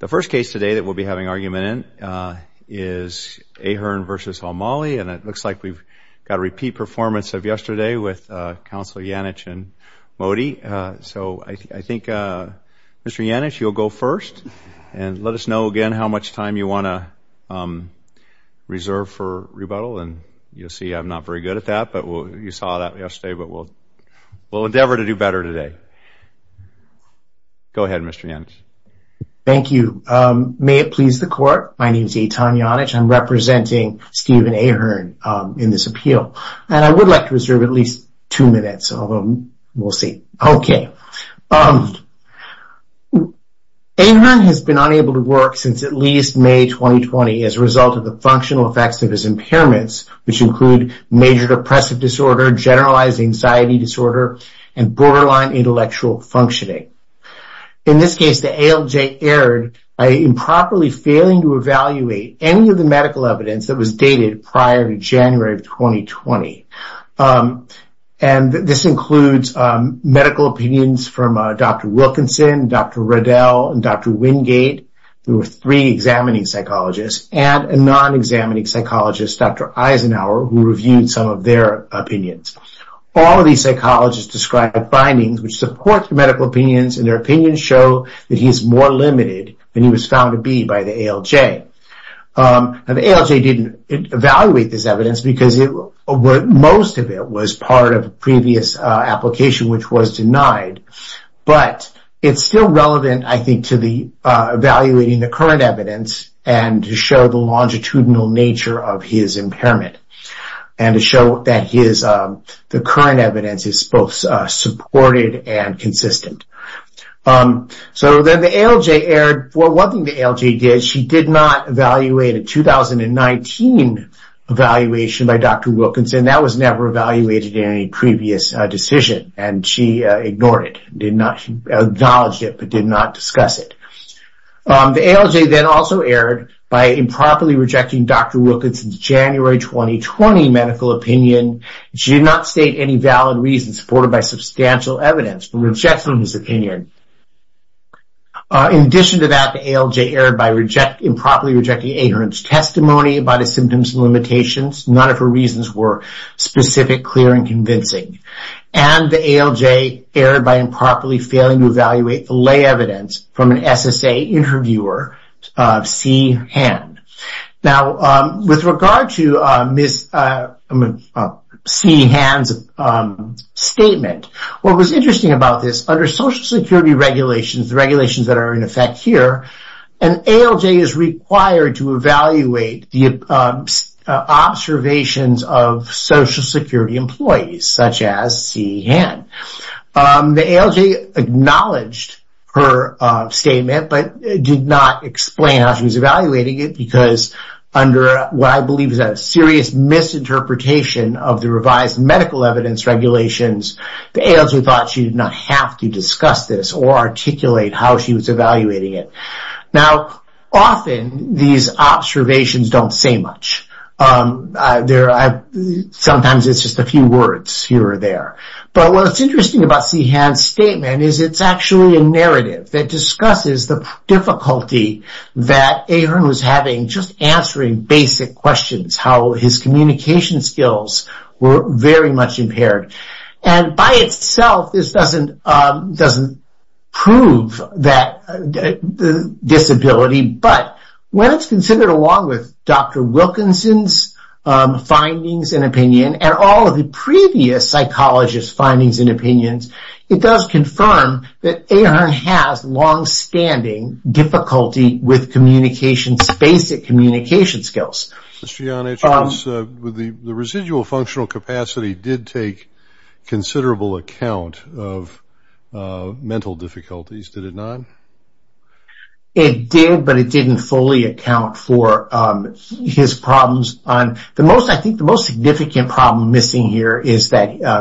The first case today that we'll be having argument in is Ahearn v. O'Malley, and it looks like we've got a repeat performance of yesterday with Counselor Janich and Modi. So I think, Mr. Janich, you'll go first and let us know again how much time you want to reserve for rebuttal, and you'll see I'm not very good at that, but you saw that yesterday, but we'll endeavor to do better today. Go ahead, Mr. Janich. Thank you. May it please the Court, my name is Eitan Janich. I'm representing Stephen Ahearn in this appeal, and I would like to reserve at least two minutes, although we'll see. Okay. Ahearn has been unable to work since at least May 2020 as a result of the functional effects of his impairments, which include major depressive disorder, generalized anxiety disorder, and borderline intellectual functioning. In this case, the ALJ erred by improperly failing to evaluate any of the medical evidence that was dated prior to January of 2020. And this includes medical opinions from Dr. Wilkinson, Dr. Riddell, and Dr. Wingate, who were three examining psychologists, and a non-examining psychologist, Dr. Eisenhower, who reviewed some of their opinions. All of these psychologists described findings which support their medical opinions, and their opinions show that he is more limited than he was found to be by the ALJ. Now, the ALJ didn't evaluate this evidence because most of it was part of a previous application which was denied, but it's still relevant, I think, to evaluating the current evidence and to show the longitudinal nature of his impairment, and to show that the current evidence is both supported and consistent. So then the ALJ erred. Well, one thing the ALJ did, she did not evaluate a 2019 evaluation by Dr. Wilkinson. That was never evaluated in any previous decision, and she ignored it, did not acknowledge it, but did not discuss it. The ALJ then also erred by improperly rejecting Dr. Wilkinson's January 2020 medical opinion. She did not state any valid reasons supported by substantial evidence for rejection of his opinion. In addition to that, the ALJ erred by improperly rejecting Ahern's testimony about his symptoms and limitations. None of her reasons were specific, clear, and convincing. And the ALJ erred by improperly failing to evaluate the lay evidence from an SSA interviewer, C. Hand. Now, with regard to Ms. C. Hand's statement, what was interesting about this, under Social Security regulations, the regulations that are in effect here, an ALJ is required to evaluate the observations of Social Security employees, such as C. Hand. The ALJ acknowledged her statement, but did not explain how she was evaluating it, because under what I believe is a serious misinterpretation of the revised medical evidence regulations, the ALJ thought she did not have to discuss this or articulate how she was evaluating it. Now, often these observations don't say much. Sometimes it's just a few words here or there. But what's interesting about C. Hand's statement is it's actually a narrative that discusses the difficulty that Ahern was having just answering basic questions, how his communication skills were very much impaired. And by itself, this doesn't prove that disability, but when it's considered along with Dr. Wilkinson's findings and opinion, and all of the previous psychologists' findings and opinions, it does confirm that Ahern has longstanding difficulty with basic communication skills. Mr. Janisch, the residual functional capacity did take considerable account of mental difficulties, did it not? It did, but it didn't fully account for his problems. I think the most significant problem missing here is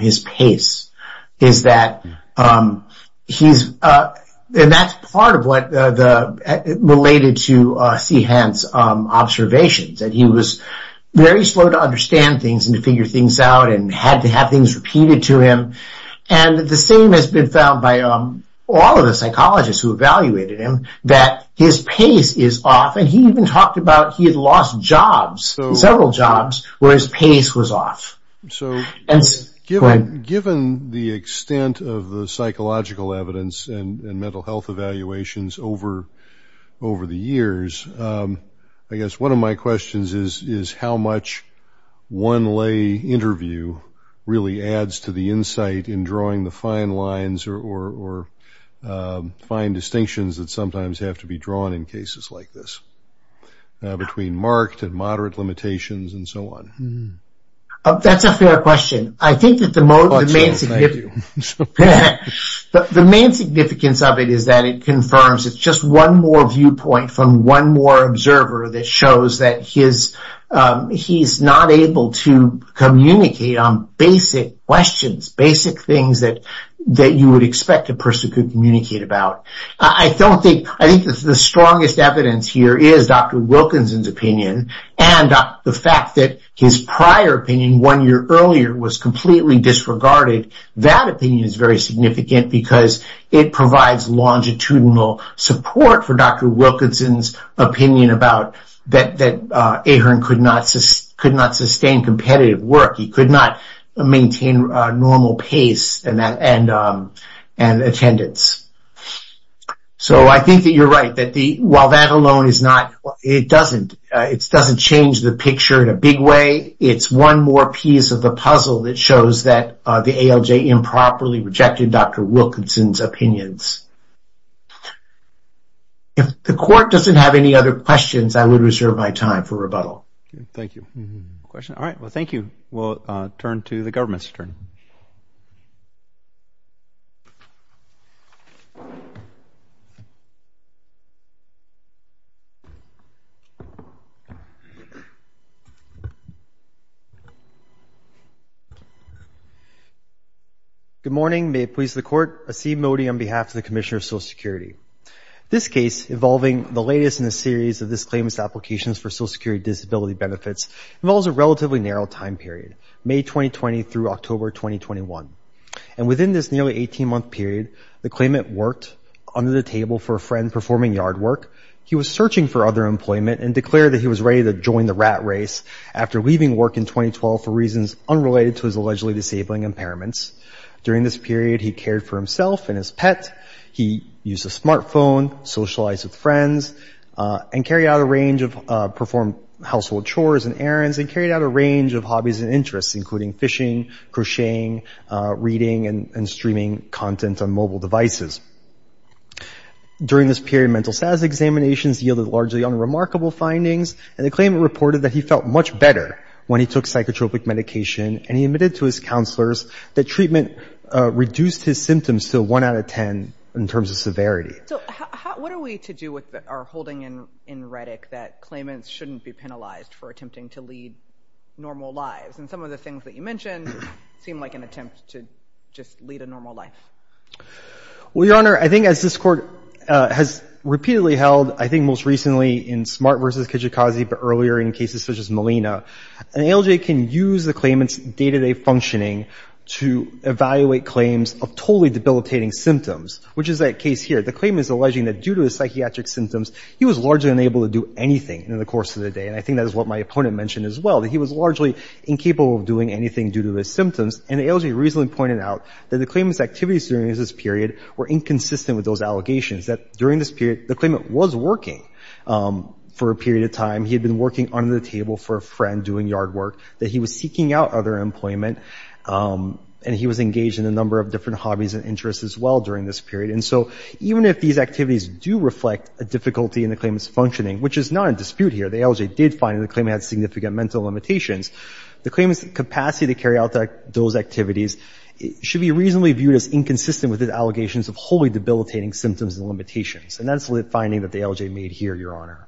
his pace. And that's part of what related to C. Hand's observations, that he was very slow to understand things and to figure things out and had to have things repeated to him. And the same has been found by all of the psychologists who evaluated him, that his pace is off, and he even talked about he had lost jobs, several jobs, where his pace was off. Given the extent of the psychological evidence and mental health evaluations over the years, I guess one of my questions is how much one lay interview really adds to the insight in drawing the fine lines or fine distinctions that sometimes have to be drawn in cases like this, between marked and moderate limitations and so on. That's a fair question. I think that the main significance of it is that it confirms, it's just one more viewpoint from one more observer that shows that he's not able to communicate on basic questions, basic things that you would expect a person could communicate about. I think the strongest evidence here is Dr. Wilkinson's opinion, and the fact that his prior opinion, one year earlier, was completely disregarded. That opinion is very significant because it provides longitudinal support for Dr. Wilkinson's opinion about that Ahern could not sustain competitive work. He could not maintain normal pace and attendance. I think that you're right. While that alone doesn't change the picture in a big way, it's one more piece of the puzzle that shows that the ALJ improperly rejected Dr. Wilkinson's opinions. If the court doesn't have any other questions, I would reserve my time for rebuttal. Thank you. Well, thank you. We'll turn to the government's turn. Good morning. May it please the Court, Asim Modi on behalf of the Commissioner of Social Security. This case, involving the latest in a series of disclaimers applications for social security disability benefits, involves a relatively narrow time period, May 2020 through October 2021. And within this nearly 18-month period, the claimant worked under the table for a friend performing yard work. He was searching for other employment and declared that he was ready to join the rat race after leaving work in 2012 for reasons unrelated to his allegedly disabling impairments. During this period, he cared for himself and his pet. He used a smartphone, socialized with friends, and carried out a range of, performed household chores and errands, and carried out a range of hobbies and interests, including fishing, crocheting, reading, and streaming content on mobile devices. During this period, mental status examinations yielded largely unremarkable findings, and the claimant reported that he felt much better when he took psychotropic medication, and he admitted to his counselors that treatment reduced his symptoms to 1 out of 10 in terms of severity. So what are we to do with our holding in Reddick that claimants shouldn't be penalized for attempting to lead normal lives? And some of the things that you mentioned seem like an attempt to just lead a normal life. Well, Your Honor, I think as this Court has repeatedly held, I think most recently in Smart v. Kijikazi, but earlier in cases such as Molina, an ALJ can use the claimant's day-to-day functioning to evaluate claims of totally debilitating symptoms, which is that case here. The claimant is alleging that due to his psychiatric symptoms, he was largely unable to do anything in the course of the day, and I think that is what my opponent mentioned as well, that he was largely incapable of doing anything due to his symptoms. And the ALJ recently pointed out that the claimant's activities during this period were inconsistent with those allegations, that during this period the claimant was working for a period of time. He had been working under the table for a friend doing yard work, that he was seeking out other employment, and he was engaged in a number of different hobbies and interests as well during this period. And so even if these activities do reflect a difficulty in the claimant's functioning, which is not in dispute here, the ALJ did find that the claimant had significant mental limitations, the claimant's capacity to carry out those activities should be reasonably viewed as inconsistent with his allegations of wholly debilitating symptoms and limitations. And that's the finding that the ALJ made here, Your Honor.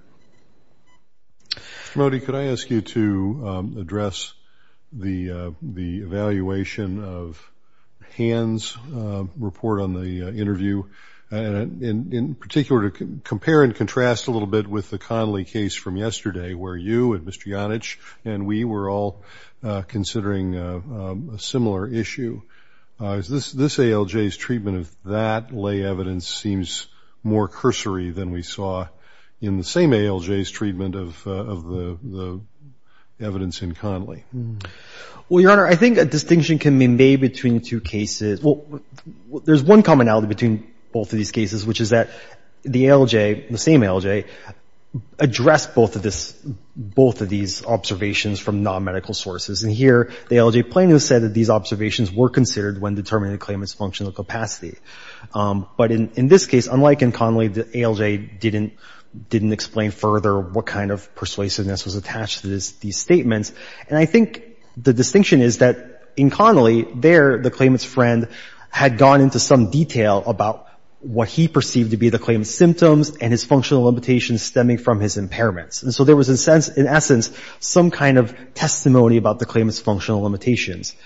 Mr. Modi, could I ask you to address the evaluation of Han's report on the interview, and in particular to compare and contrast a little bit with the Connolly case from yesterday, where you and Mr. Yonich and we were all considering a similar issue. This ALJ's treatment of that lay evidence seems more cursory than we saw in the same ALJ's treatment of the evidence in Connolly. Well, Your Honor, I think a distinction can be made between the two cases. There's one commonality between both of these cases, which is that the ALJ, the same ALJ, addressed both of these observations from non-medical sources. And here, the ALJ plainly said that these observations were considered when determining the claimant's functional capacity. But in this case, unlike in Connolly, the ALJ didn't explain further what kind of persuasiveness was attached to these statements. And I think the distinction is that in Connolly, there, the claimant's friend had gone into some detail about what he perceived to be the claimant's symptoms and his functional limitations stemming from his impairments. And so there was, in essence, some kind of testimony about the claimant's functional limitations.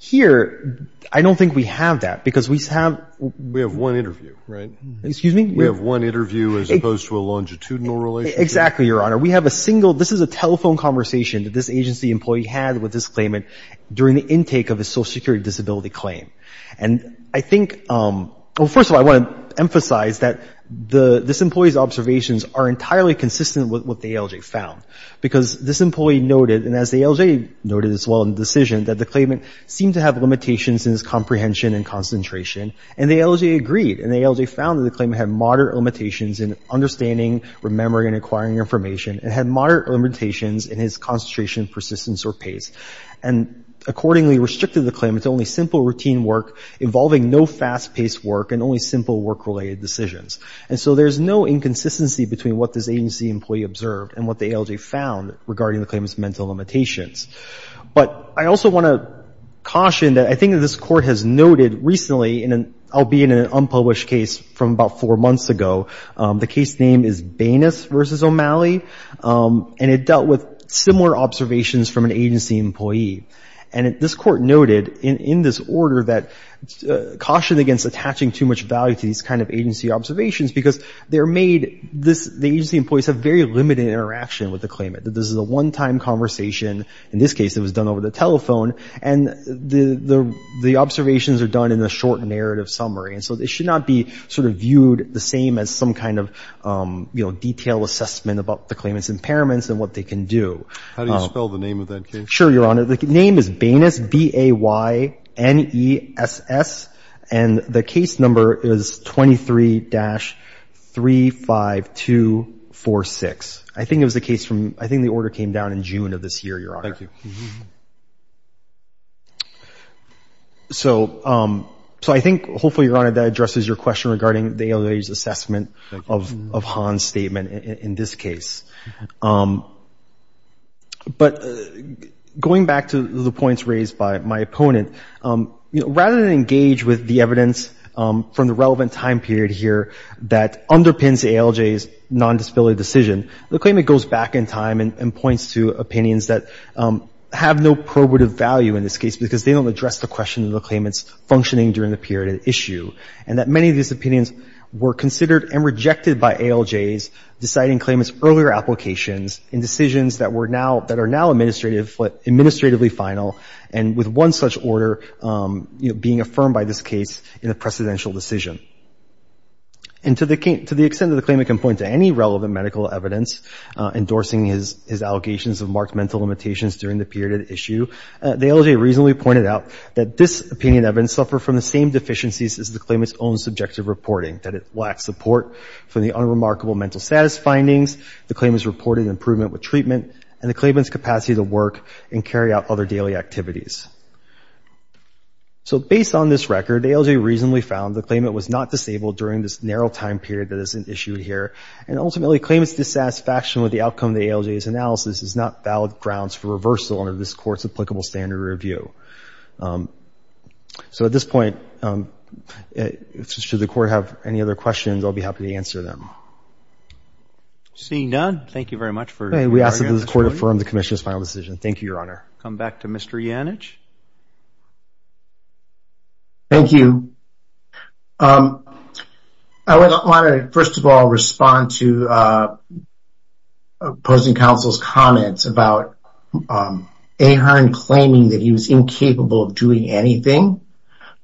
Here, I don't think we have that, because we have one interview, right? Excuse me? We have one interview as opposed to a longitudinal relationship. Exactly, Your Honor. We have a single — this is a telephone conversation that this agency employee had with this claimant during the intake of his social security disability claim. And I think — well, first of all, I want to emphasize that this employee's observations are entirely consistent with what the ALJ found. Because this employee noted, and as the ALJ noted as well in the decision, that the claimant seemed to have limitations in his comprehension and concentration. And the ALJ agreed, and the ALJ found that the claimant had moderate limitations in understanding, remembering, and acquiring information, and had moderate limitations in his concentration, persistence, or pace, and accordingly restricted the claimant to only simple routine work involving no fast-paced work and only simple work-related decisions. And so there's no inconsistency between what this agency employee observed and what the ALJ found regarding the claimant's mental limitations. But I also want to caution that I think this Court has noted recently, and I'll be in an unpublished case from about four months ago, the case name is Banas v. O'Malley, and it dealt with similar observations from an agency employee. And this Court noted in this order that caution against attaching too much value to these kind of agency observations because they're made, the agency employees have very limited interaction with the claimant. This is a one-time conversation. In this case, it was done over the telephone, and the observations are done in a short narrative summary. And so they should not be sort of viewed the same as some kind of, you know, detailed assessment about the claimant's impairments and what they can do. How do you spell the name of that case? Sure, Your Honor. The name is Banas, B-A-Y-N-E-S-S. And the case number is 23-35246. I think it was a case from, I think the order came down in June of this year, Your Honor. Thank you. So I think, hopefully, Your Honor, that addresses your question regarding the ALJ's assessment of Hahn's statement in this case. But going back to the points raised by my opponent, rather than engage with the evidence from the relevant time period here that underpins the ALJ's nondisability decision, the claimant goes back in time and points to opinions that have no probative value in this case because they don't address the question of the claimant's functioning during the period at issue, and that many of these opinions were considered and rejected by ALJs deciding claimant's earlier applications in decisions that are now administratively final and with one such order being affirmed by this case in a precedential decision. And to the extent that the claimant can point to any relevant medical evidence endorsing his allegations of marked mental limitations during the period at issue, the ALJ reasonably pointed out that this opinion evidence suffered from the same deficiencies as the claimant's own subjective reporting, that it lacked support for the unremarkable mental status findings, the claimant's reported improvement with treatment, and the claimant's capacity to work and carry out other daily activities. So based on this record, ALJ reasonably found the claimant was not disabled during this narrow time period that isn't issued here, and ultimately claimant's dissatisfaction with the outcome of the ALJ's analysis is not valid grounds for reversal under this Court's applicable standard review. So at this point, should the Court have any other questions, I'll be happy to answer them. Seeing none, thank you very much. We ask that this Court affirm the Commission's final decision. Thank you, Your Honor. Come back to Mr. Yannich. Thank you. I would want to, first of all, respond to opposing counsel's comments about Ahearn claiming that he was incapable of doing anything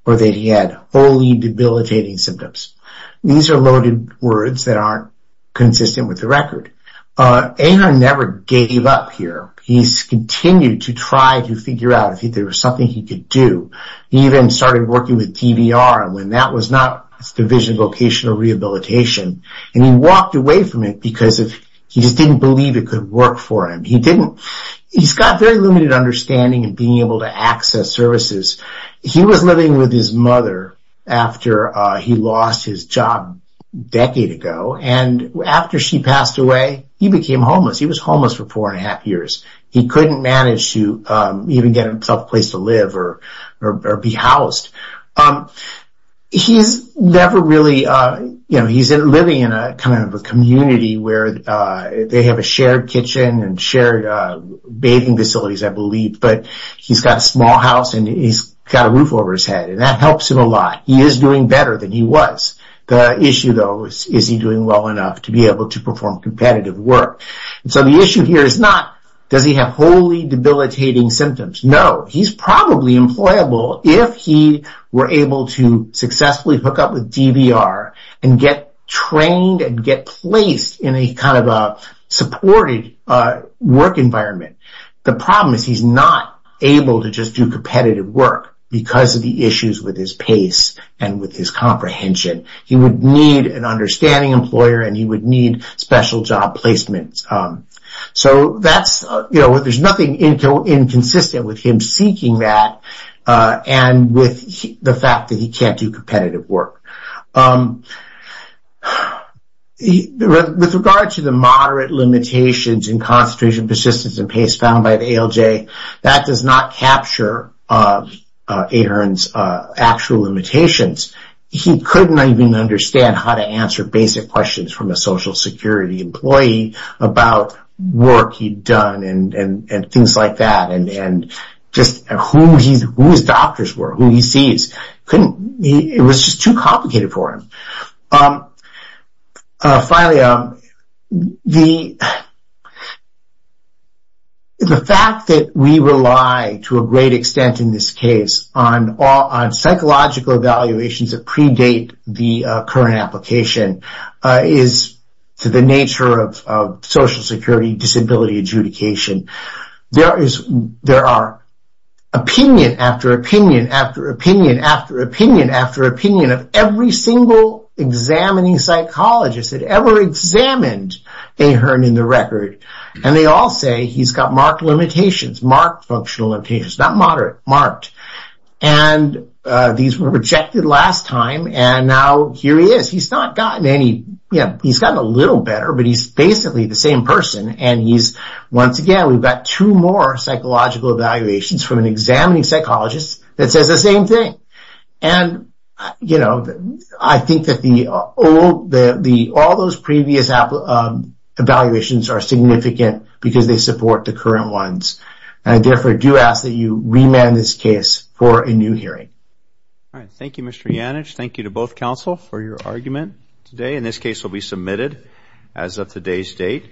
or that he had wholly debilitating symptoms. These are loaded words that aren't consistent with the record. Ahearn never gave up here. He continued to try to figure out if there was something he could do. He even started working with DVR when that was not a Division of Vocational Rehabilitation, and he walked away from it because he just didn't believe it could work for him. He's got very limited understanding of being able to access services. He was living with his mother after he lost his job a decade ago, and after she passed away, he became homeless. He was homeless for four and a half years. He couldn't manage to even get himself a place to live or be housed. He's living in a community where they have a shared kitchen and shared bathing facilities, I believe, but he's got a small house and he's got a roof over his head, and that helps him a lot. He is doing better than he was. The issue, though, is, is he doing well enough to be able to perform competitive work? The issue here is not, does he have wholly debilitating symptoms? No, he's probably employable if he were able to successfully hook up with DVR and get trained and get placed in a kind of a supported work environment. The problem is he's not able to just do competitive work because of the issues with his pace and with his comprehension. He would need an understanding employer and he would need special job placements. So there's nothing inconsistent with him seeking that and with the fact that he can't do competitive work. With regard to the moderate limitations in concentration, persistence, and pace found by the ALJ, that does not capture Ahern's actual limitations. He couldn't even understand how to answer basic questions from a Social Security employee about work he'd done and things like that and just who his doctors were, who he sees. It was just too complicated for him. Finally, the fact that we rely to a great extent in this case on psychological evaluations that predate the current application is to the nature of Social Security disability adjudication. There are opinion after opinion after opinion after opinion after opinion of every single examining psychologist that ever examined Ahern in the record. They all say he's got marked functional limitations. These were rejected last time and now here he is. He's gotten a little better, but he's basically the same person. Once again, we've got two more psychological evaluations from an examining psychologist that says the same thing. I think that all those previous evaluations are significant because they support the current ones. I therefore do ask that you remand this case for a new hearing. Thank you, Mr. Janich. Thank you to both counsel for your argument today. This case will be submitted as of today's date.